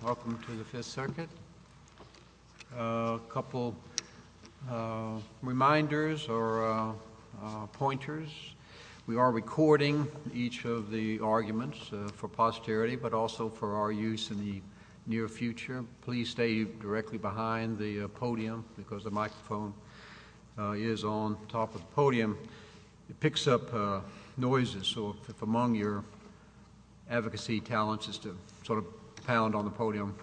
Welcome to the Fifth Circuit. A couple reminders or pointers. We are recording each of the arguments for posterity but also for our use in the near future. Please stay directly behind the podium because the microphone is on top of the podium. It picks up noises so if among your advocacy talents is to sort of pound on the podium,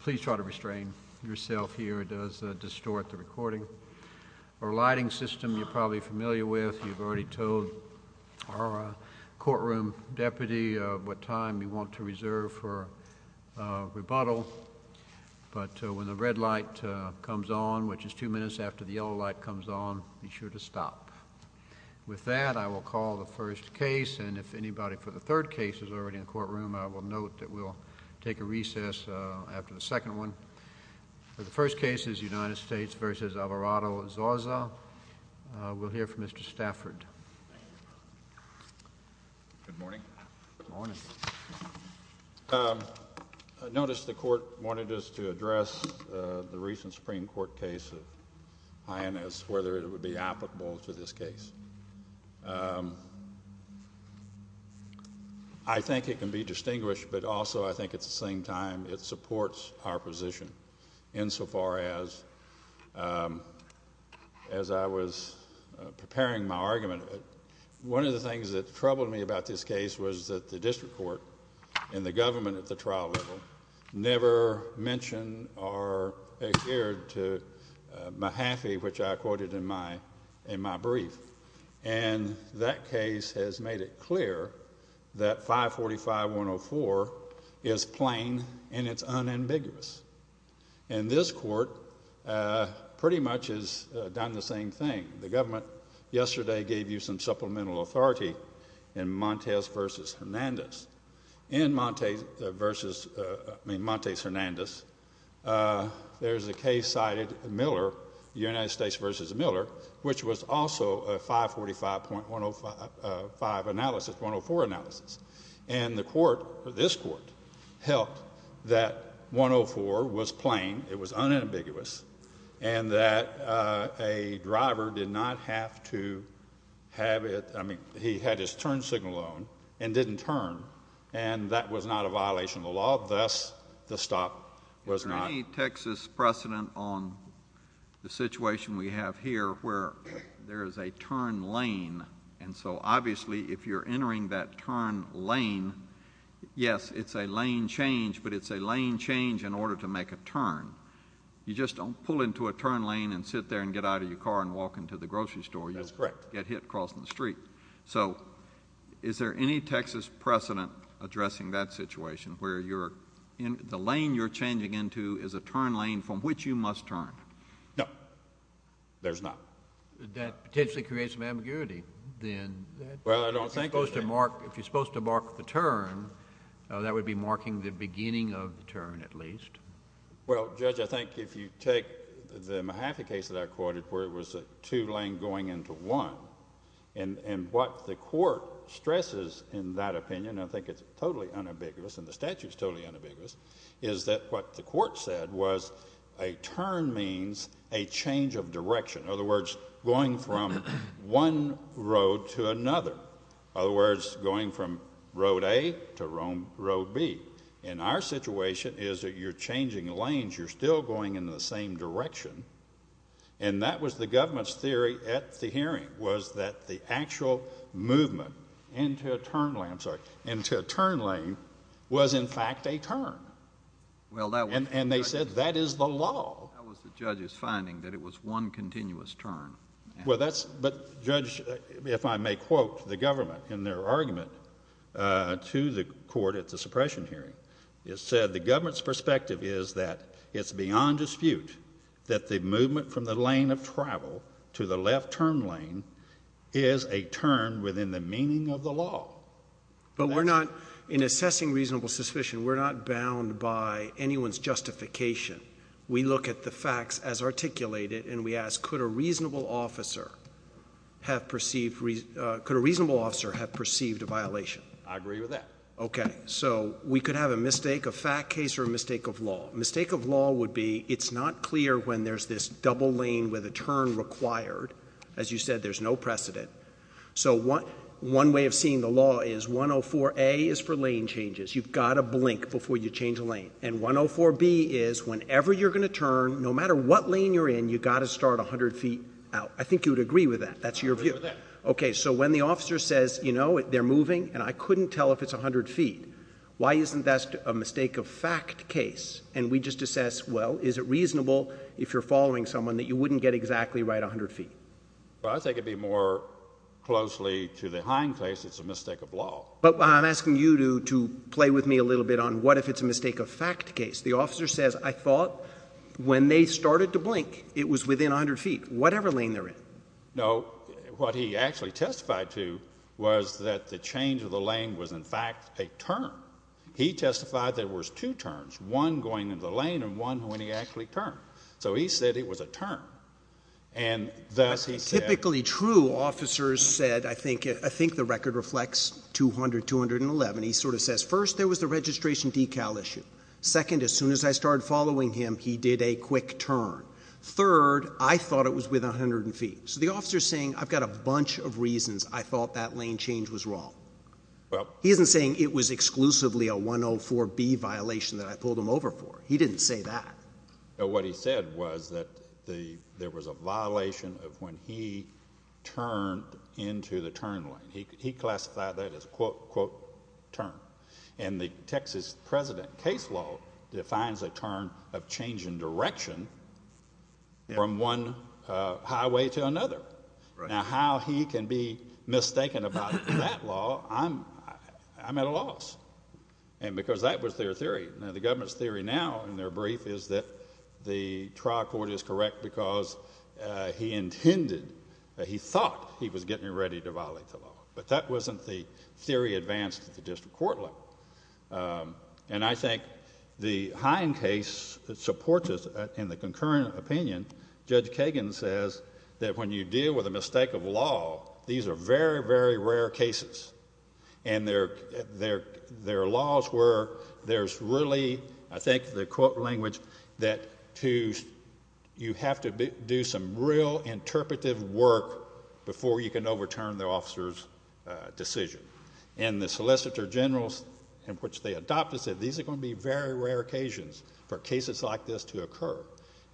please try to restrain yourself here. It does distort the recording. Our lighting system you're probably familiar with. You've already told our courtroom deputy what time you want to reserve for rebuttal but when the red light comes on, which is two minutes after the yellow light comes on, be sure to stop. With that I will call the first case and if anybody for the third case is already in the courtroom, I will note that we'll take a recess after the second one. For the first case is United States v. Alvarado-Zarza. We'll hear from Mr. Stafford. Good morning. Good morning. Notice the court wanted us to address the recent Supreme Court case of Hyannis, whether it would be applicable to this case. I think it can be distinguished but also I think at the same time it supports our position insofar as I was preparing my argument. One of the things that troubled me about this case was that the district court and the government at the trial level never mentioned or adhered to Mahaffey, which I quoted in my brief. And that case has made it clear that 545-104 is plain and it's unambiguous. And this court pretty much has done the same thing. The government in Montes Hernandez, there's a case cited Miller, United States v. Miller, which was also a 545-104 analysis. And the court, this court, helped that 104 was plain, it was unambiguous, and that a driver did not have to have it, I mean he had his turn signal on and didn't turn, and that was not a violation of the law, thus the stop was not. Is there any Texas precedent on the situation we have here where there is a turn lane and so obviously if you're entering that turn lane, yes it's a lane change, but it's a lane change in order to make a turn. You just don't pull into a turn lane and sit there and get out of your car and walk into the grocery store, you'll get hit crossing the street. So is there any Texas precedent addressing that situation where the lane you're changing into is a turn lane from which you must turn? No, there's not. That potentially creates some ambiguity then. Well I don't think it does. If you're supposed to mark the turn, that would be marking the beginning of the turn at least. Well Judge, I think if you take the Mahaffey case that I quoted where it was a two lane going into one, and what the court stresses in that opinion, I think it's totally unambiguous and the statute's totally unambiguous, is that what the court said was a turn means a change of direction, in other words going from one road to another, in other words going from road A to road B. And our situation is that you're changing lanes, you're still going in the same direction, and that was the government's theory at the hearing, was that the actual movement into a turn lane was in fact a turn. And they said that is the law. That was the judge's finding, that it was one continuous turn. But Judge, if I may quote the government in their argument to the court at the suppression hearing, it said the government's perspective is that it's beyond dispute that the movement from the lane of travel to the left turn lane is a turn within the meaning of the law. But we're not, in assessing reasonable suspicion, we're not bound by anyone's justification. We look at the facts as articulated and we ask could a reasonable officer have perceived, could a reasonable officer have perceived a violation? I agree with that. Okay. So we could have a mistake, a fact case or a mistake of law. Mistake of law would be it's not clear when there's this double lane with a turn required. As you said, there's no precedent. So one way of seeing the law is 104A is for lane changes. You've got to blink before you change a lane. And 104B is whenever you're going to turn, no matter what lane you're in, you've got to start 100 feet out. I think you would agree with that. That's your view. I agree with that. Okay. So when the officer says, you know, they're moving and I couldn't tell if it's 100 feet, why isn't that a mistake of fact case? And we just assess, well, is it reasonable if you're following someone that you wouldn't get exactly right 100 feet? Well, I think it'd be more closely to the Hine case, it's a mistake of law. But I'm asking you to play with me a little bit on what if it's a mistake of fact case? The officer says, I thought when they started to blink, it was within 100 feet, whatever lane they're in. No, what he actually testified to was that the change of the lane was in fact a turn. He testified there was two turns, one going into the lane and one when he actually turned. So he said it was a turn. And thus he said... Typically true, officers said, I think the record reflects 200, 211. He sort of says, first, there was the registration decal issue. Second, as soon as I started following him, he did a quick turn. Third, I thought it was within 100 feet. So the officer's saying, I've got a bunch of reasons I thought that lane change was wrong. He isn't saying it was exclusively a 104B violation that I pulled him over for. He didn't say that. But what he said was that there was a violation of when he turned into the turn lane. He classified that as a quote, quote, turn. And the Texas president case law defines a turn of change in direction from one highway to another. Now, how he can be mistaken about that law, I'm at a loss. And because that was their theory. Now, the government's theory now in their brief is that the trial court is correct because he intended, he thought he was getting ready to violate the law. But that wasn't the theory advanced at the district court level. And I think the Hine case that supports us in the concurrent opinion, Judge Kagan says that when you deal with a mistake of law, these are very, very rare cases. And their laws were, there's really, I think the quote language that you have to do some real interpretive work before you can overturn the officer's decision. And the solicitor general in which they adopted said, these are going to be very rare occasions for cases like this to occur.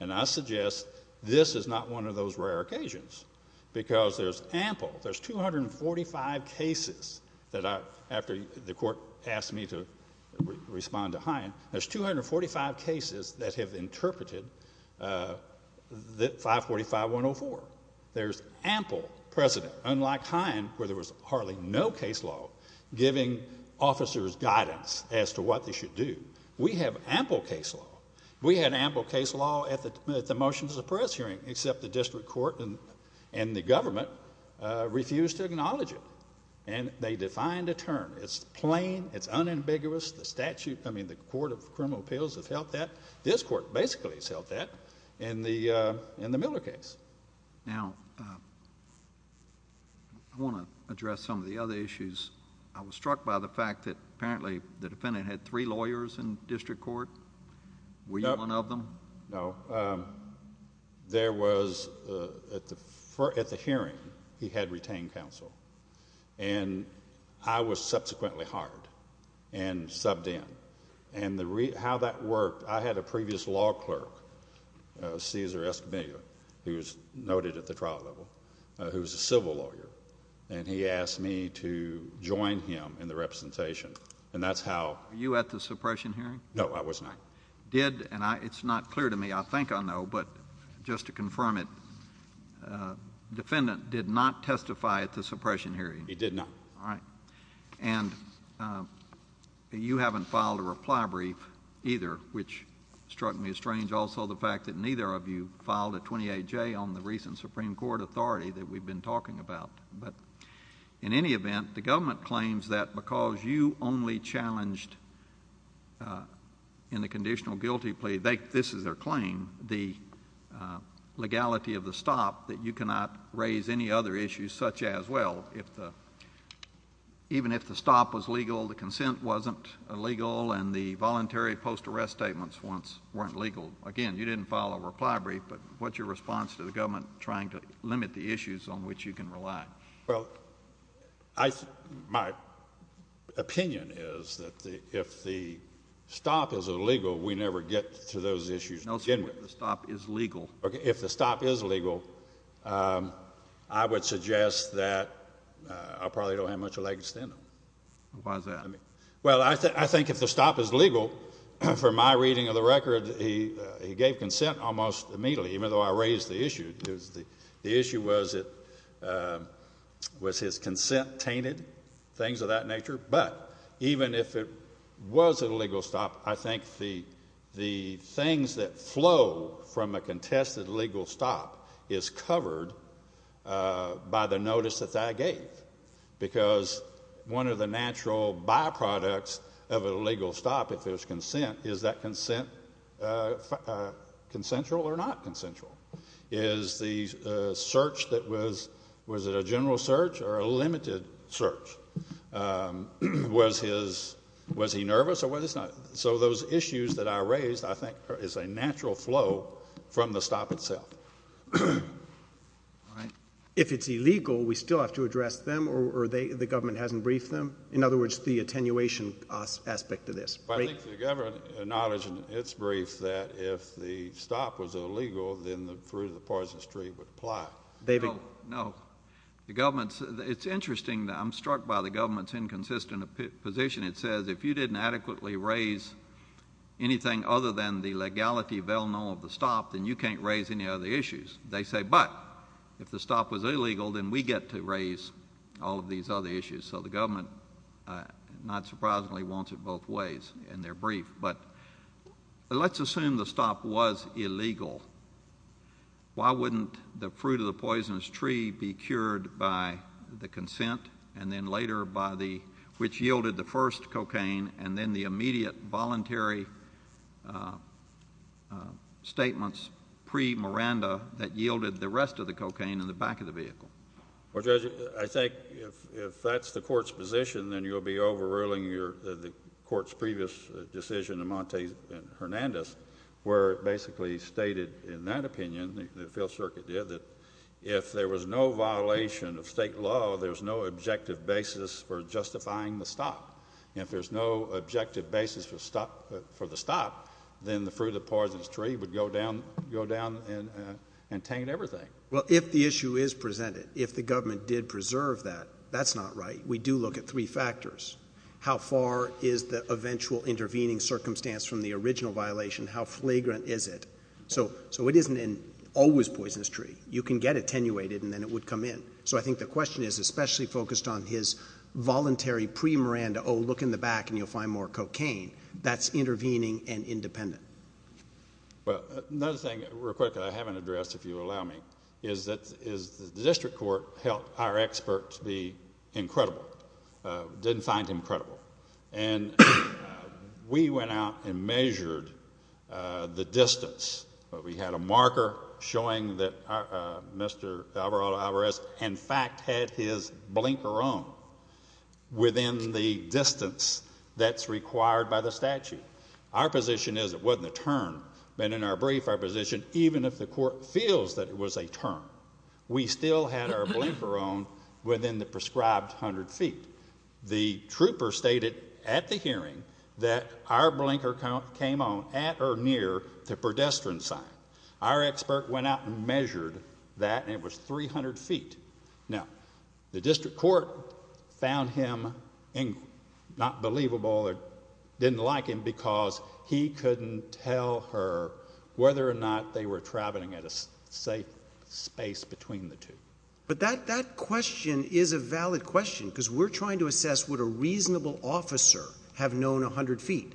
And I suggest this is not one of those rare occasions because there's ample, there's 245 cases that I, after the court asked me to respond to Hine, there's 245 cases that have interpreted 545-104. There's ample precedent, unlike Hine, where there was hardly no case law giving officers guidance as to what they should do. We have ample case law. We had ample case law at the motions of the press hearing, except the district court and the government refused to acknowledge it. And they defined a term. It's plain. It's unambiguous. The statute, I mean, the Court of Criminal Appeals have held that. This court basically has held that in the Miller case. Now, I want to address some of the other issues. I was struck by the fact that apparently the defendant had three lawyers in district court. Were you one of them? No. There was, at the hearing, he had retained counsel. And I was subsequently hired and subbed in. And how that worked, I had a previous law clerk, Cesar Escamilla, who was noted at the trial level, who's a civil lawyer. And he asked me to join him in the representation. And that's how... Were you at the suppression hearing? No, I was not. Did, and it's not clear to me, I think I know, but just to confirm it, defendant did not testify at the suppression hearing? He did not. All right. And you haven't filed a reply brief either, which struck me as strange. Also the fact that neither of you filed a 28-J on the recent Supreme Court authority that we've been talking about. But in any event, the government claims that because you only challenged in the conditional guilty plea, this is their claim, the legality of the stop, that you cannot raise any other issues such as, well, even if the stop was legal, the consent wasn't illegal, and the voluntary post-arrest statements weren't legal. Again, you didn't file a reply brief, but what's your response to the government trying to limit the issues on which you can rely? Well, my opinion is that if the stop is illegal, we never get to those issues. No, sir, if the stop is legal. If the stop is legal, I would suggest that I probably don't have much of a leg to stand on. Why is that? Well, I think if the stop is legal, from my reading of the record, he gave consent almost immediately, even though I raised the issue. The issue was his consent tainted, things of that nature. I would suggest that a legal stop is covered by the notice that that gave, because one of the natural byproducts of a legal stop, if there's consent, is that consent consensual or not consensual? Is the search that was, was it a general search or a limited search? Was his, was he nervous or was he not? So those issues that I raised, I think, is a natural flow from the stop itself. If it's illegal, we still have to address them or the government hasn't briefed them? In other words, the attenuation aspect of this. Well, I think the government acknowledged in its brief that if the stop was illegal, then the fruit of the poisonous tree would apply. David. No, the government's, it's interesting that I'm struck by the government's inconsistent position. It says, if you didn't adequately raise anything other than the legality of the stop, then you can't raise any other issues. They say, but if the stop was illegal, then we get to raise all of these other issues. So the government not surprisingly wants it both ways in their brief, but let's assume the stop was illegal. Why wouldn't the fruit of the poisonous tree be cured by the consent and then later by the, which yielded the first cocaine and then the immediate voluntary statements pre-Miranda that yielded the rest of the cocaine in the back of the vehicle? Well, Judge, I think if that's the court's position, then you'll be overruling your, the court's previous decision in Monte Hernandez, where it basically stated in that opinion, the field circuit did, that if there was no violation of state law, there was no objective basis for justifying the stop. If there's no objective basis for the stop, then the fruit of the poisonous tree would go down and taint everything. Well, if the issue is presented, if the government did preserve that, that's not right. We do look at three factors. How far is the eventual intervening circumstance from the original violation? How flagrant is it? So it isn't an always poisonous tree. You can get attenuated and then it would come in. So I think the question is especially focused on his voluntary pre-Miranda, oh, look in the back and you'll find more cocaine. That's intervening and independent. Well, another thing real quick that I haven't addressed, if you'll allow me, is that the district court helped our expert to be incredible. Didn't find him credible. And we went out and measured the distance. We had a marker showing that Mr. Alvarado-Alvarez in fact had his blinker on within the distance that's required by the statute. Our position is it wasn't a turn. But in our brief, our position, even if the court feels that it was a turn, we still had our blinker on within the prescribed 100 feet. The trooper stated at the hearing that our blinker came on at or near the pedestrian sign. Our expert went out and measured that and it was 300 feet. Now, the district court found him not believable or didn't like him because he couldn't tell her whether or not they were traveling at a safe space between the two. But that question is a valid question because we're trying to assess would a reasonable officer have known 100 feet.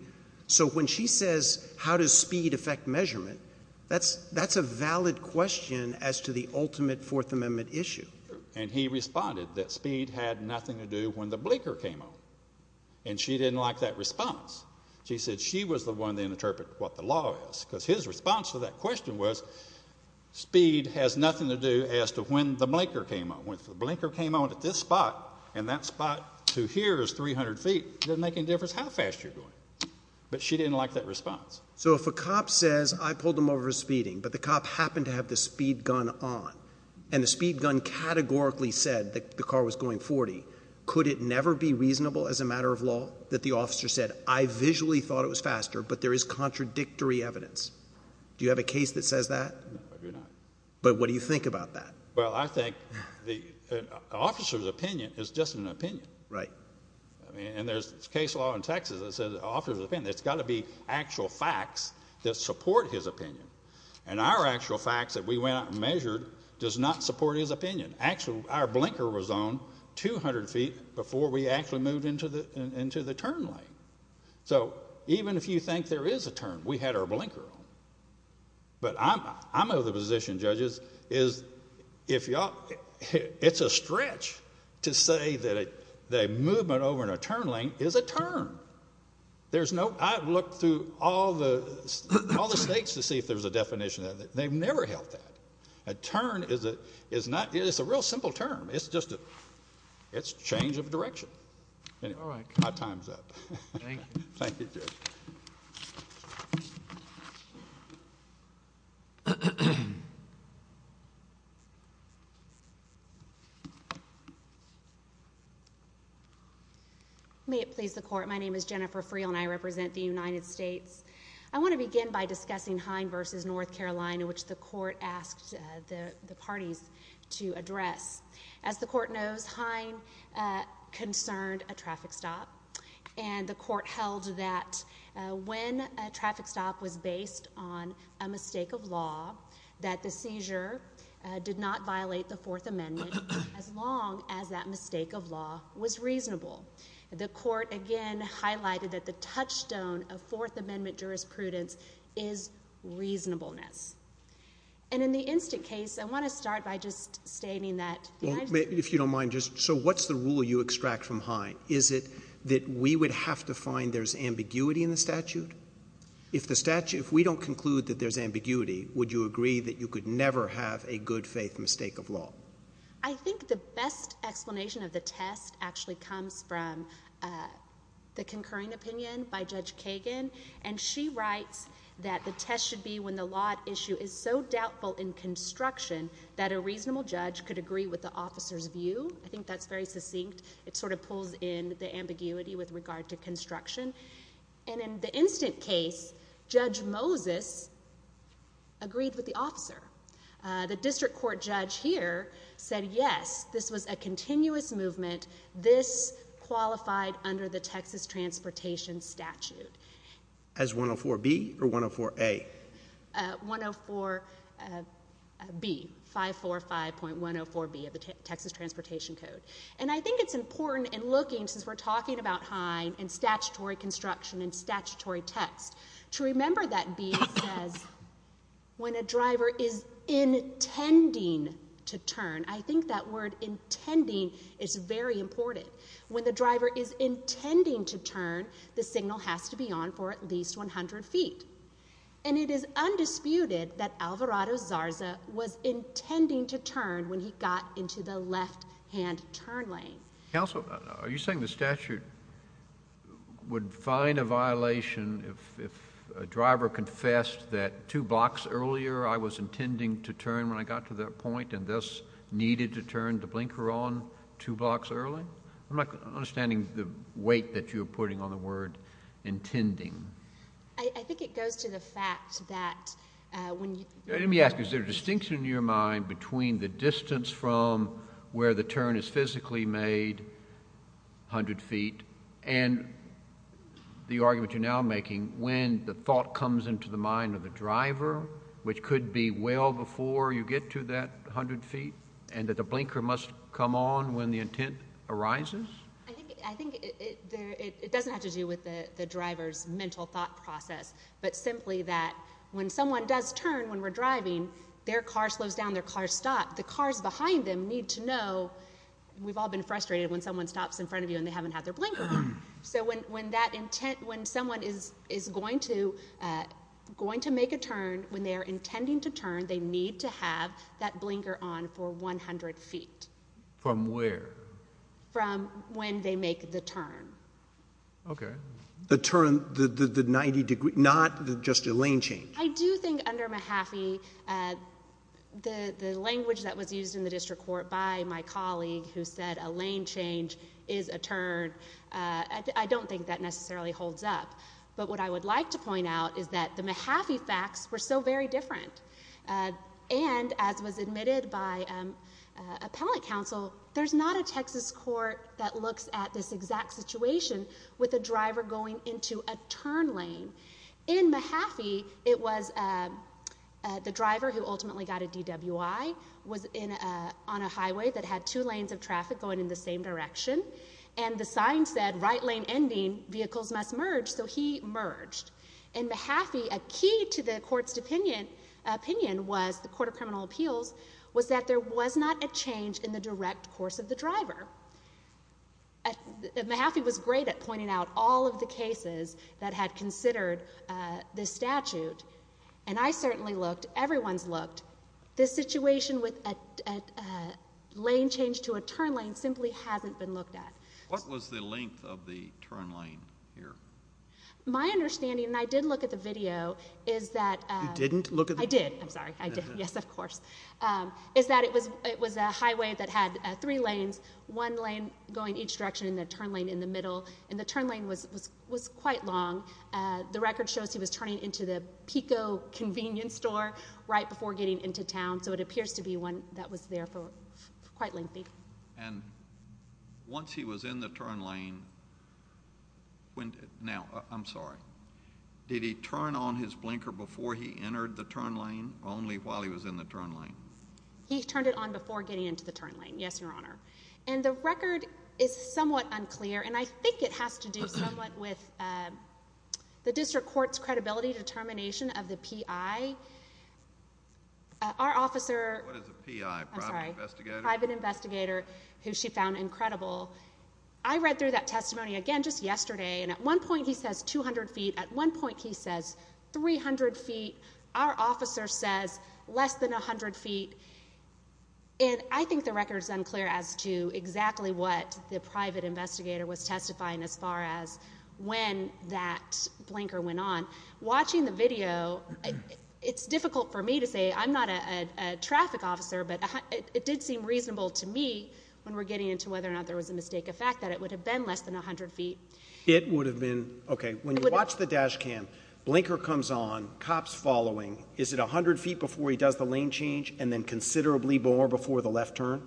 So when she says how does speed affect measurement, that's a valid question as to the ultimate Fourth Amendment issue. And he responded that speed had nothing to do when the blinker came on. And she didn't like that response. She said she was the one that interpreted what the law is because his response to that question was speed has nothing to do as to when the blinker came on. When the blinker came on at this spot and that spot to here is 300 feet, it doesn't make any difference how fast you're going. But she didn't like that response. So if a cop says I pulled him over for speeding but the cop happened to have the speed gun on and the speed gun categorically said that the car was going 40, could it never be reasonable as a matter of law that the officer said I visually thought it was faster but there is contradictory evidence? Do you have a case that says that? No, I do not. But what do you think about that? Well, I think the officer's opinion is just an opinion. Right. I mean, and there's case law in Texas that says it's got to be actual facts that support his opinion. And our actual facts that we went out and measured does not support his opinion. Actually, our blinker was on 200 feet before we actually moved into the turn lane. So even if you think there is a turn, we had our blinker on. But I know the position, judges, is if y'all, it's a stretch to say that a movement over in a turn lane is a turn. There's no, I've looked through all the states to see if there's a definition. They've never held that. A turn is a real simple term. It's just a change of direction. My time's up. Thank you. May it please the court, my name is Jennifer Friel and I represent the United States. I want to begin by discussing Hine v. North Carolina, which the court asked the parties to address. As the court knows, Hine concerned a traffic stop. And the court held that when a traffic stop was based on a mistake of law, that the seizure did not violate the Fourth Amendment as long as that mistake of law was reasonable. The court again highlighted that the touchstone of Fourth Amendment jurisprudence is reasonableness. And in the instant case, I want to start by just stating that... If you don't mind, just, so what's the rule you extract from Hine? Is it that we would have to find there's ambiguity in the statute? If the statute, if we don't conclude that there's ambiguity, would you agree that you could never have a good faith mistake of law? I think the best explanation of the test actually comes from the concurring opinion by Judge Kagan, and she writes that the test should be when the law at issue is so doubtful in construction that a reasonable judge could agree with the officer's view. I think that's very succinct. It sort of pulls in the ambiguity with regard to construction. And in the instant case, Judge Moses agreed with the officer. The district court judge here said, yes, this was a continuous movement. This qualified under the Texas Transportation Statute. As 104B or 104A? 104B, 545.104B of the Texas Transportation Code. And I think it's important in looking, since we're talking about Hine and statutory construction and statutory text, to remember that B says when a driver is intending to turn. I think that word intending is very important. When the driver is intending to turn, the signal has to be on for at least 100 feet. And it is undisputed that Alvarado Zarza was intending to turn when he got into the left hand turn lane. Counsel, are you saying the statute would find a violation if a driver confessed that two blocks earlier I was intending to turn when I got to that point and thus needed to turn to blinker on two blocks early? I'm not understanding the weight that you're putting on the word intending. I think it goes to the fact that when you— Let me ask you, is there a distinction in your mind between the distance from where the turn is physically made, 100 feet, and the argument you're now making, when the thought comes into the mind of the driver, which could be well before you get to that 100 feet, and that the blinker must come on when the intent arises? I think it doesn't have to do with the driver's mental thought process, but simply that when someone does turn when we're driving, their car slows down, their car stops. The cars behind them need to know, we've all been frustrated when someone stops in front of you and they haven't had their blinker on. So when that intent, when someone is going to make a turn, when they are intending to turn, they need to have that blinker on for 100 feet. From where? From when they make the turn. Okay. The turn, the 90 degree, not just a lane change. I do think under Mahaffey, the language that was used in the district court by my colleague who said a lane change is a turn, I don't think that necessarily holds up. But what I would like to point out is that the Mahaffey facts were so very different. And as was admitted by appellate counsel, there's not a Texas court that looks at this exact situation with a driver going into a turn lane. In Mahaffey, it was the driver who ultimately got a DWI was on a highway that had two lanes of traffic going in the same direction. And the sign said, right lane ending, vehicles must merge. So he merged. In Mahaffey, a key to the court's opinion was, the Court of Criminal Appeals, was that there was not a change in the direct course of the driver. Mahaffey was great at pointing out all of the cases that had considered this statute. And I certainly looked, everyone's looked. This situation with a lane change to a turn lane simply hasn't been looked at. What was the length of the turn lane here? My understanding, and I did look at the video, is that You didn't look at the video? I did. I'm sorry. I did. Yes, of course. Is that it was a highway that had three lanes, one lane going each direction, and the turn lane in the middle. And the turn lane was quite long. The record shows he was turning into the Pico convenience store right before getting into town. So it appears to be one that was there for quite lengthy. And once he was in the turn lane, now, I'm sorry, did he turn on his blinker before he only while he was in the turn lane? He turned it on before getting into the turn lane. Yes, Your Honor. And the record is somewhat unclear, and I think it has to do somewhat with the district court's credibility determination of the PI. Our officer What is a PI? Private investigator? Private investigator, who she found incredible. I read through that testimony again just yesterday, and at one point he says 200 feet. At one point he says 300 feet. Our officer says less than 100 feet. And I think the record is unclear as to exactly what the private investigator was testifying as far as when that blinker went on. Watching the video, it's difficult for me to say. I'm not a traffic officer, but it did seem reasonable to me when we're getting into whether or not there was a mistake, a fact that it would have been less than 100 feet. It would have been. Okay, when you watch the dash cam, blinker comes on, cops following. Is it 100 feet before he does the lane change and then considerably more before the left turn?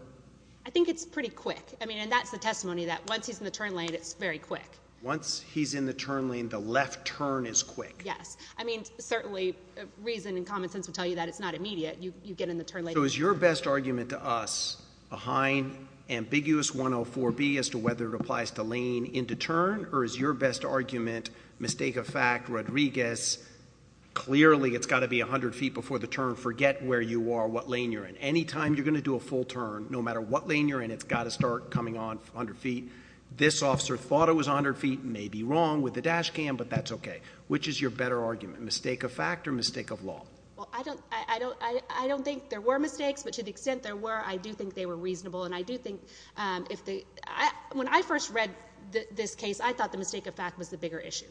I think it's pretty quick. I mean, and that's the testimony that once he's in the turn lane, it's very quick. Once he's in the turn lane, the left turn is quick. Yes. I mean, certainly reason and common sense would tell you that it's not immediate. You get in the turn lane. So is your best argument to us behind ambiguous 104B as to whether it applies to lane into turn or is your best argument, mistake of fact, Rodriguez, clearly it's got to be 100 feet before the turn. Forget where you are, what lane you're in. Anytime you're going to do a full turn, no matter what lane you're in, it's got to start coming on 100 feet. This officer thought it was 100 feet, may be wrong with the dash cam, but that's okay. Which is your better argument, mistake of fact or mistake of law? Well, I don't, I don't, I don't think there were mistakes, but to the extent there were, I do think they were reasonable. And I do think, um, if the, I, when I first read this case, I thought the mistake of fact was the bigger issue.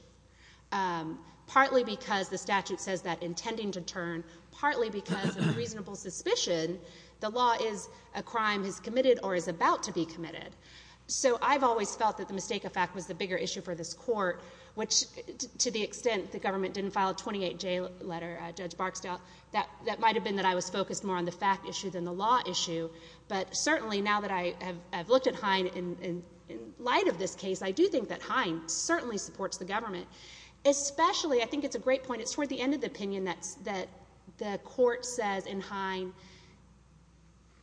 Um, partly because the statute says that intending to turn partly because of reasonable suspicion, the law is a crime has committed or is about to be committed. So I've always felt that the mistake of fact was the bigger issue for this court, which to the extent the government didn't file a 28 J letter, uh, judge Barksdale, that, that might've been that I was focused more on the fact issue than the law issue. But certainly now that I have, I've looked at Hine in, in, in light of this case, I do think that Hine certainly supports the government, especially, I think it's a great point. It's toward the end of the opinion that's, that the court says in Hine,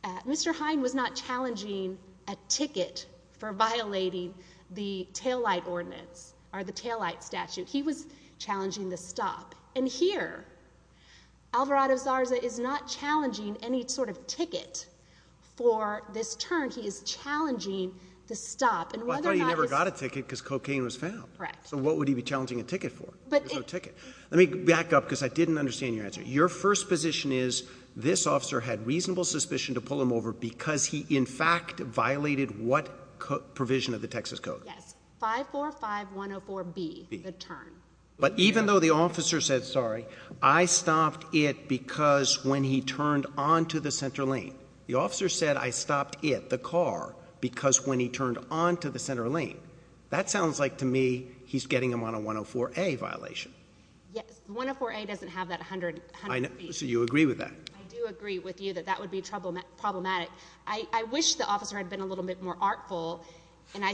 uh, Mr. Hine was not challenging a ticket for violating the taillight ordinance or the taillight statute. He was Alvarado Zarza is not challenging any sort of ticket for this turn. He is challenging the stop and whether or not he never got a ticket because cocaine was found. Correct. So what would he be challenging a ticket for ticket? Let me back up cause I didn't understand your answer. Your first position is this officer had reasonable suspicion to pull him over because he in fact violated what provision of the Texas code? Yes. 545104B the turn. But even though the officer said, sorry, I stopped it because when he turned onto the center lane, the officer said, I stopped it, the car, because when he turned onto the center lane, that sounds like to me, he's getting them on a 104a violation. Yes. 104a doesn't have that 100, so you agree with that? I do agree with you that that would be trouble problematic. I wish the officer had been a little bit more artful and I,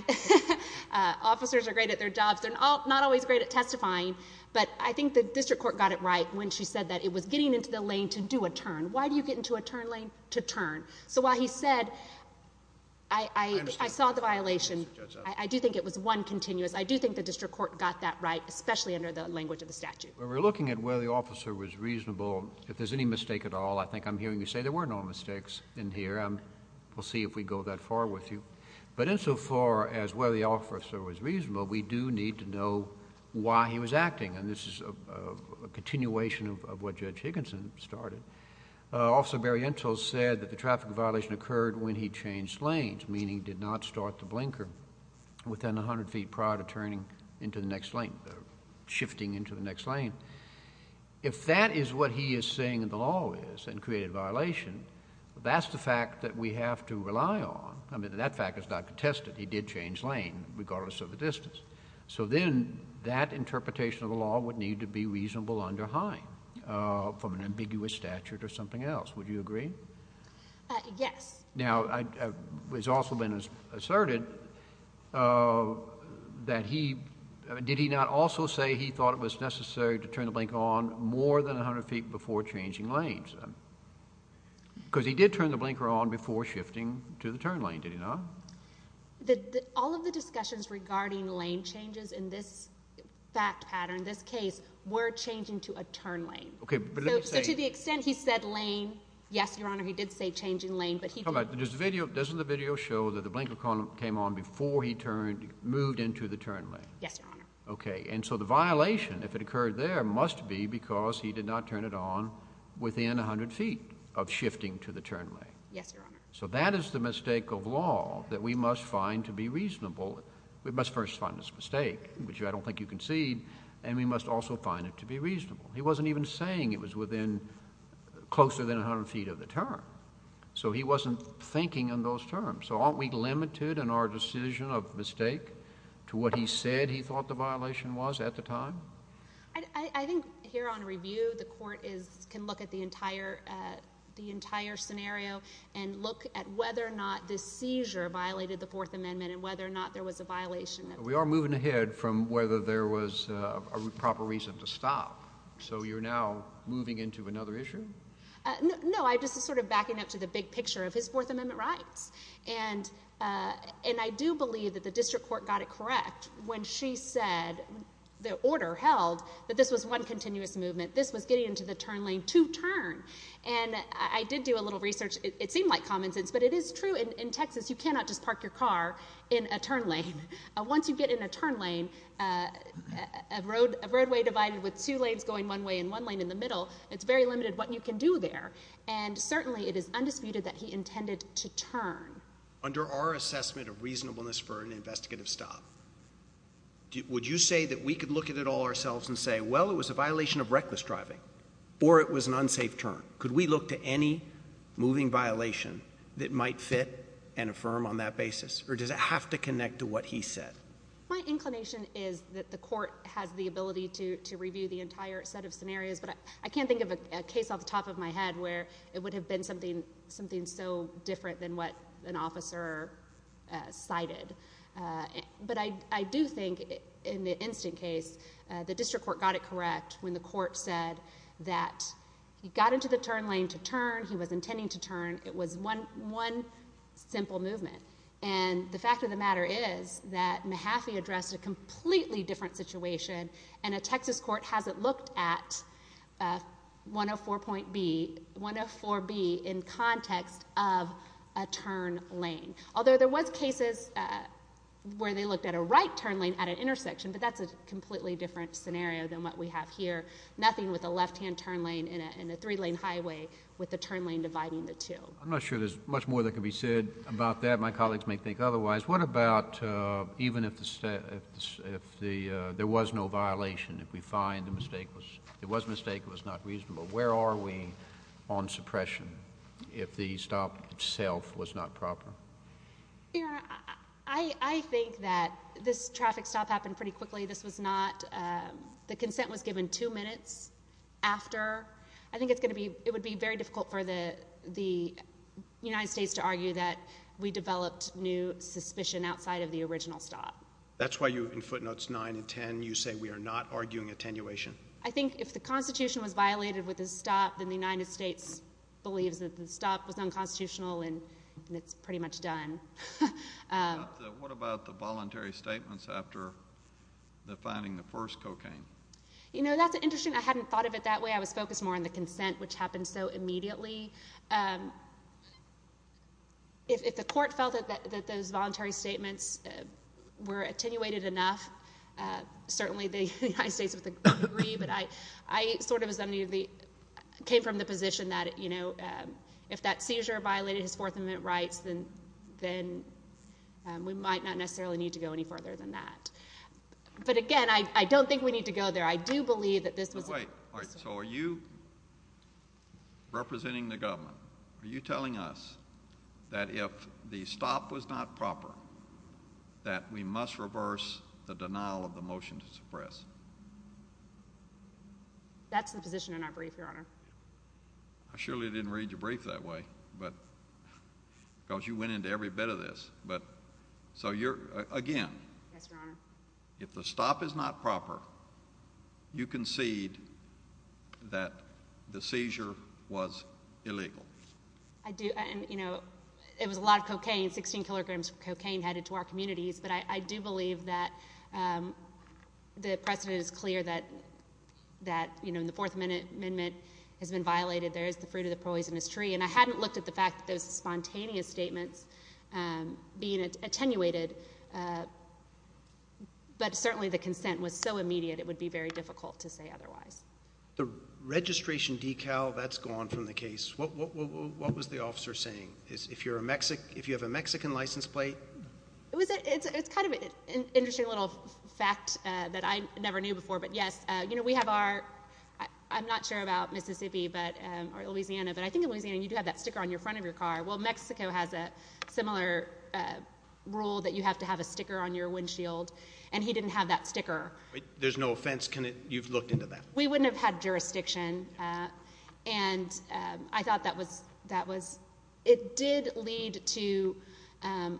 uh, officers are great at their jobs. They're not always great at testifying, but I think the district court got it right when she said that it was getting into the lane to do a turn. Why do you get into a turn lane to turn? So while he said, I, I, I saw the violation. I do think it was one continuous. I do think the district court got that right, especially under the language of the statute. We're looking at where the officer was reasonable. If there's any mistake at all, I think I'm hearing you say there were no mistakes in here. Um, we'll see if we go that far with you. But insofar as where the officer was reasonable, we do need to know why he was acting. And this is a continuation of what Judge Higginson started. Uh, Officer Barry Entel said that the traffic violation occurred when he changed lanes, meaning did not start the blinker within a hundred feet prior to turning into the next lane, shifting into the next lane. If that is what he is saying in the law is and created a violation, that's the fact that we have to rely on. I mean, that fact is not contested. He did change lane regardless of the distance. So then that interpretation of the law would need to be reasonable under HINE, uh, from an ambiguous statute or something else. Would you agree? Uh, yes. Now, I, uh, it's also been asserted, uh, that he, did he not also say he thought it was necessary to turn the blinker on more than a hundred feet before changing lanes? Because he did turn the blinker on before shifting to the turn lane, did he not? The, the, all of the discussions regarding lane changes in this fact pattern, this case, were changing to a turn lane. Okay. So to the extent he said lane, yes, Your Honor, he did say changing lane, but he didn't. Does the video, doesn't the video show that the blinker column came on before he turned, moved into the turn lane? Yes, Your Honor. Okay. And so the violation, if it occurred there, must be because he did not turn it on within a hundred feet of shifting to the turn lane. Yes, Your Honor. So that is the mistake of law that we must find to be reasonable. We must first find this mistake, which I don't think you concede, and we must also find it to be reasonable. He wasn't even saying it was within, closer than a hundred feet of the turn. So he wasn't thinking in those terms. So aren't we limited in our decision of mistake to what he said he thought the violation was at the time? I, I think here on review, the court is, can look at the entire, the entire scenario and look at whether or not this seizure violated the Fourth Amendment and whether or not there was a violation of it. We are moving ahead from whether there was a proper reason to stop. So you're now moving into another issue? No, I'm just sort of backing up to the big picture of his Fourth Amendment rights. And, and I do believe that the district court got it correct when she said the order held that this was one continuous movement. This was getting into the turn lane to turn. And I did do a little research. It seemed like common sense, but it is true. In Texas, you cannot just park your car in a turn lane. Once you get in a turn lane, a roadway divided with two lanes going one way and one lane in the middle, it's very limited what you can do there. And certainly it is undisputed that he intended to turn. Under our assessment of reasonableness for an investigative stop, would you say that we could look at it all ourselves and say, well, it was a violation of reckless driving or it was an unsafe turn? Could we look to any moving violation that might fit and affirm on that basis? Or does it have to connect to what he said? My inclination is that the court has the ability to, to review the entire set of scenarios, but I can't think of a case off the top of my head where it would have been something, something so different than what an officer cited. But I, I do think in the instant case, the district court got it correct when the court said that he got into the turn lane to turn, he was intending to turn. It was one, one simple movement. And the fact of the matter is that Mahaffey addressed a completely different situation and a Texas court hasn't looked at 104.B, 104B in context of a turn lane. Although there was cases where they looked at a right turn lane at an intersection, but that's a completely different scenario than what we have here. Nothing with a left-hand turn lane in a, in a three-lane highway with the turn lane dividing the two. I'm not sure there's much more that can be said about that. My colleagues may think otherwise. What about even if the, if the, if the, there was no violation, if we find the mistake was, it was a mistake, it was not reasonable, where are we on suppression if the stop itself was not proper? Your Honor, I, I think that this traffic stop happened pretty quickly. This was not, um, the consent was given two minutes after. I think it's going to be, it would be very difficult for the, the United States to argue that we developed new suspicion outside of the original stop. That's why you, in footnotes 9 and 10, you say we are not arguing attenuation. I think if the Constitution was violated with this stop, then the United States believes that the stop was unconstitutional and, and it's pretty much done. What about the, what about the voluntary statements after the, finding the first cocaine? You know, that's interesting. I hadn't thought of it that way. I was focused more on the consent, which happened so immediately. Um, if, if the court felt that, that, that those voluntary statements, uh, were attenuated enough, uh, certainly the United States would agree, but I, I sort of as any of the, came from the position that, you know, um, if that seizure violated his Fourth Amendment rights, then, then, um, we might not necessarily need to go any further than that. But again, I, I don't think we need to go there. I do believe that this was. All right. All right. So are you representing the government? Are you telling us that if the stop was not proper, that we must reverse the denial of the motion to suppress? That's the position in our brief, Your Honor. I surely didn't read your brief that way, but, because you went into every bit of this, but so you're, again, Yes, Your Honor. If the stop is not proper, you concede that the seizure was illegal. I do. And, you know, it was a lot of cocaine, 16 kilograms of cocaine headed to our communities, but I, I do believe that, um, the precedent is clear that, that, you know, in the Fourth Amendment has been violated, there is the fruit of the poisonous tree. And I hadn't looked at the fact that those spontaneous statements, um, being attenuated, uh, but certainly the consent was so immediate, it would be very difficult to say otherwise. The registration decal, that's gone from the case. What, what, what, what, what was the officer saying? If you're a Mexican, if you have a Mexican license plate? It was a, it's a, it's kind of an interesting little fact, uh, that I never knew before, but yes, uh, you know, we have our, I'm not sure about Mississippi, but, um, or Louisiana, but I think in Louisiana, you do have that sticker on your front of your car. Well, Mexico has a similar, uh, rule that you have to have a sticker on your windshield, and he didn't have that sticker. There's no offense, can it, you've looked into that? We wouldn't have had jurisdiction. Uh, and, um, I thought that was, that was, it did lead to, um,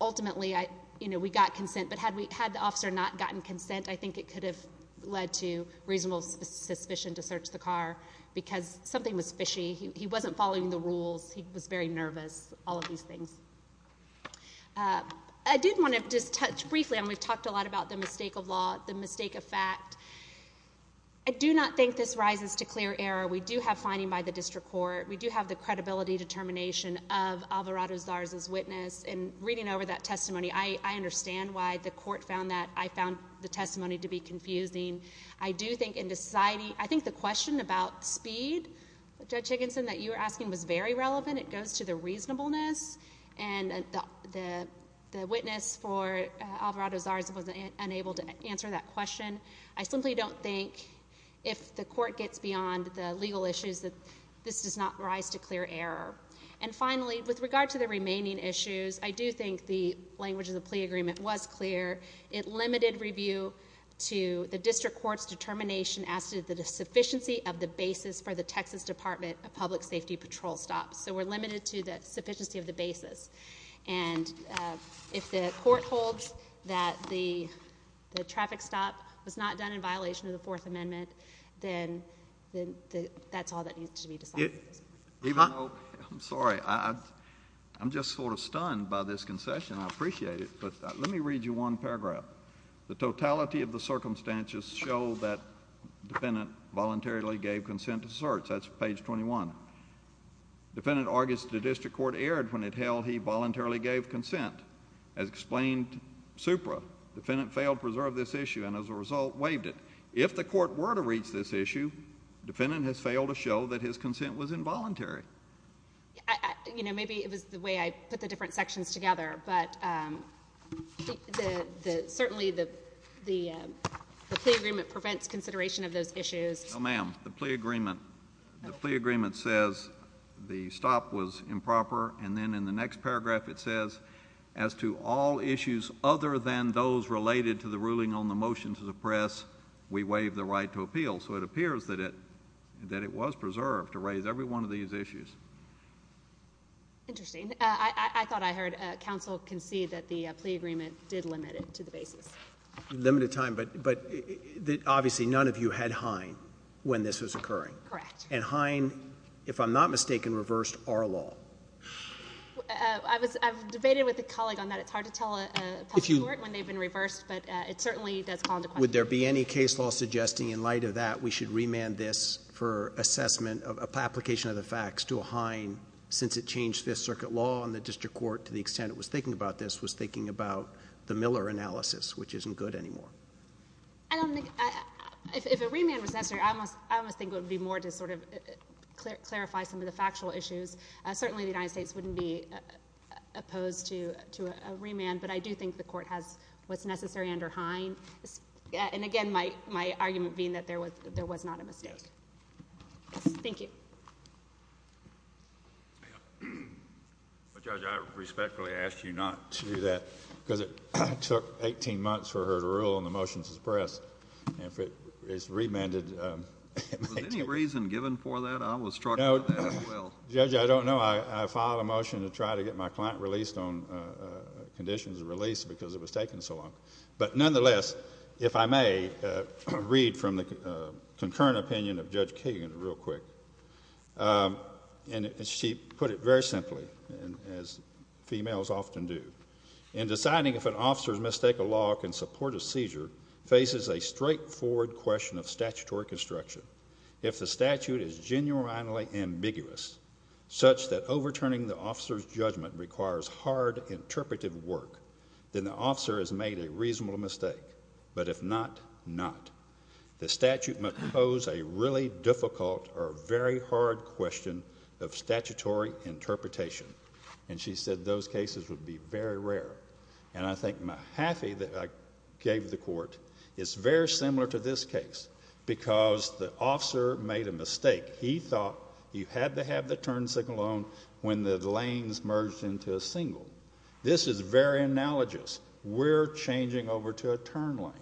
ultimately I, you know, we got consent, but had we, had the officer not gotten consent, I think it could have led to reasonable suspicion to search the car because something was fishy. He wasn't following the rules. He was very nervous, all of these things. Uh, I did want to just touch briefly, and we've talked a lot about the mistake of law, the mistake of fact. I do not think this rises to clear error. We do have finding by the district court. We do have the credibility determination of Alvarado-Zars' witness, and reading over that testimony, I, I understand why the court found that. I found the testimony to be confusing. I do think in the society, I think the question about speed, Judge Higginson, that you were asking was very relevant. It goes to the reasonableness, and the, the witness for Alvarado-Zars was unable to answer that question. I simply don't think if the court gets beyond the legal issues that this does not rise to clear error. And finally, with regard to the remaining issues, I do think the language of the plea agreement was clear. It limited review to the district court's determination as to the sufficiency of the basis for the Texas Department of Public Safety patrol stops. So we're limited to the sufficiency of the basis. And, uh, if the traffic stop was not done in violation of the Fourth Amendment, then, then, the, that's all that needs to be decided. Even though, I'm sorry, I, I, I'm just sort of stunned by this concession. I appreciate it. But let me read you one paragraph. The totality of the circumstances show that defendant voluntarily gave consent to search. That's page 21. Defendant argues the district court erred when it held he voluntarily gave consent. As explained by the plaintiff, the district court erred when it held he voluntarily gave consent. Defendant supra. Defendant failed to preserve this issue and, as a result, waived it. If the court were to reach this issue, defendant has failed to show that his consent was involuntary. I, I, you know, maybe it was the way I put the different sections together. But, um, the, the, certainly the, the, um, the plea agreement prevents consideration of those issues. No, ma'am. The plea agreement, the plea agreement says the stop was improper. And then in the next paragraph it says, as to all issues other than those related to the ruling on the motion to suppress, we waive the right to appeal. So it appears that it, that it was preserved to raise every one of these issues. Interesting. Uh, I, I, I thought I heard, uh, counsel concede that the, uh, plea agreement did limit it to the basis. Limited time. But, but obviously none of you had Hine when this was occurring. Correct. And Hine, if I'm not mistaken, reversed our law. Uh, I was, I've debated with a colleague on that. It's hard to tell a public court when they've been reversed, but, uh, it certainly does fall into question. Would there be any case law suggesting in light of that we should remand this for assessment of, of application of the facts to a Hine since it changed Fifth Circuit law and the district court, to the extent it was thinking about this, was thinking about the Miller analysis, which isn't good anymore. I don't think, uh, if, if a remand was necessary, I almost, I almost think it would be more to sort of clarify some of the factual issues. Uh, certainly the United States wouldn't be opposed to, to a remand, but I do think the court has what's necessary under Hine. And again, my, my argument being that there was, there was not a mistake. Thank you. Judge, I respectfully ask you not to do that because it took 18 months for her to rule in the motions of the press. And if it is remanded, um, was any reason given for that? I was struck out as well. Judge, I don't know. I, I filed a motion to try to get my client released on, uh, uh, conditions of release because it was taken so long. But nonetheless, if I may, uh, read from the, uh, concurrent opinion of Judge Kagan real quick. Um, and she put it very simply and as females often do in deciding if an officer's mistake of law can support a seizure faces a straightforward question of statutory construction. If the statute is genuinely ambiguous, such that overturning the officer's judgment requires hard interpretive work, then the officer has made a reasonable mistake. But if not, not. The statute must pose a really difficult or very hard question of statutory interpretation. And she said those cases would be very rare. And I think Mahaffey that I gave the court is very similar to this case because the officer made a mistake. He thought you had to have the turn signal on when the lanes merged into a single. This is very analogous. We're changing over to a turn lane.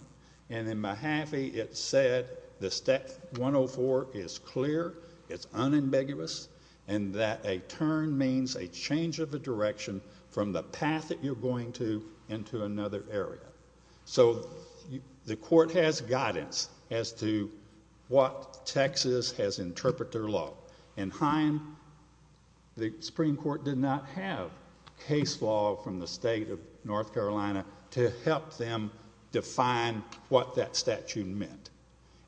And in Mahaffey, it said the step 104 is clear, it's unambiguous, and that a turn means a change of a direction from the path that you're going to into another area. So, the court has guidance as to what Texas has interpreter law. In Heim, the Supreme Court did not have case law from the state of North Carolina to help them define what that statute meant.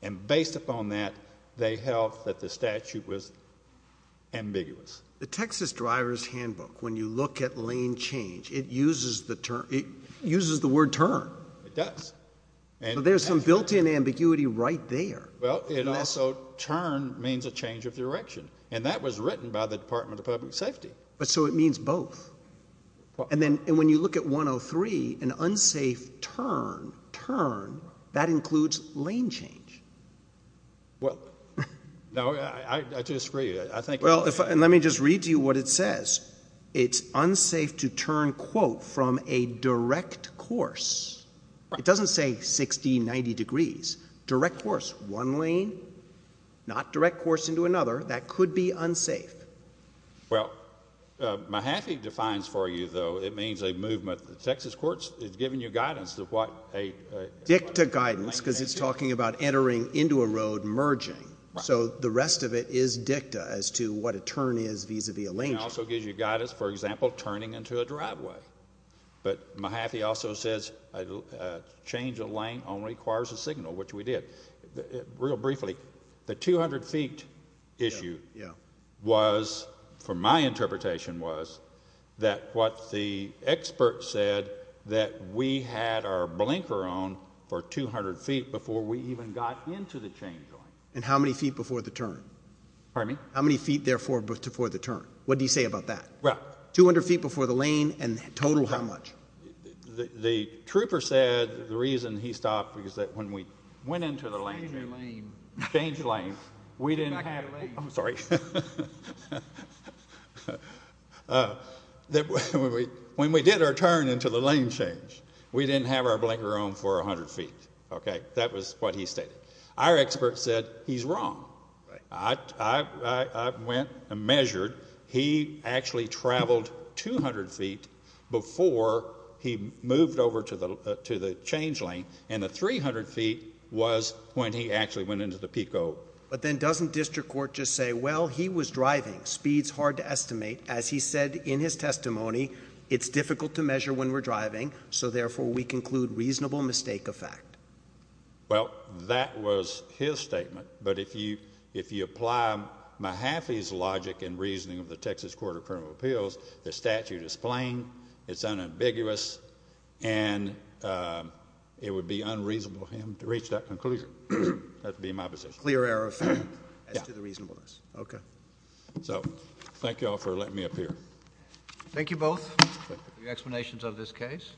And based upon that, they held that the statute was ambiguous. The Texas Driver's Handbook, when you look at lane change, it uses the term, it uses the word turn. It does. There's some built-in ambiguity right there. Well, it also, turn means a change of direction. And that was written by the Department of Public Safety. But so it means both. And when you look at 103, an unsafe turn, turn, that includes lane change. Well, no, I disagree. And let me just read to you what it says. It's unsafe to turn quote from a direct course. It doesn't say 60, 90 degrees. Direct course, one lane, not a turn. It would be unsafe. Well, Mahaffey defines for you, though, it means a movement. The Texas courts have given you guidance of what a... Dicta guidance, because it's talking about entering into a road, merging. So, the rest of it is dicta as to what a turn is vis-a-vis a lane change. It also gives you guidance, for example, turning into a driveway. But Mahaffey also says a change of lane only requires a signal, which we did. Real briefly, the 200 feet issue was, from my interpretation, was that what the expert said that we had our blinker on for 200 feet before we even got into the change lane. And how many feet before the turn? Pardon me? How many feet, therefore, before the turn? What do you say about that? Well, 200 feet before the lane and total how much? The trooper said the reason he stopped was that when we went into the lane... Change lane. Change lane. We didn't have... I'm sorry. When we did our turn into the lane change, we didn't have our blinker on for 100 feet, okay? That was what he stated. Our expert said he's wrong. I went and measured. He actually traveled 200 feet before he moved over to the change lane. And the 300 feet was when he actually went into the Pico. But then doesn't district court just say, well, he was driving. Speed's hard to estimate. As he said in his testimony, it's difficult to measure when we're driving. So, therefore, we conclude reasonable mistake of fact. Well, that was his statement. But if you apply Mahaffey's logic and reasoning of the Texas Court of Criminal Appeals, the statute is plain, it's unambiguous, and it would be unreasonable of him to reach that conclusion. That would be my position. Clear error of fact as to the reasonableness. Okay. So thank you all for letting me appear. Thank you both for your explanations of this case.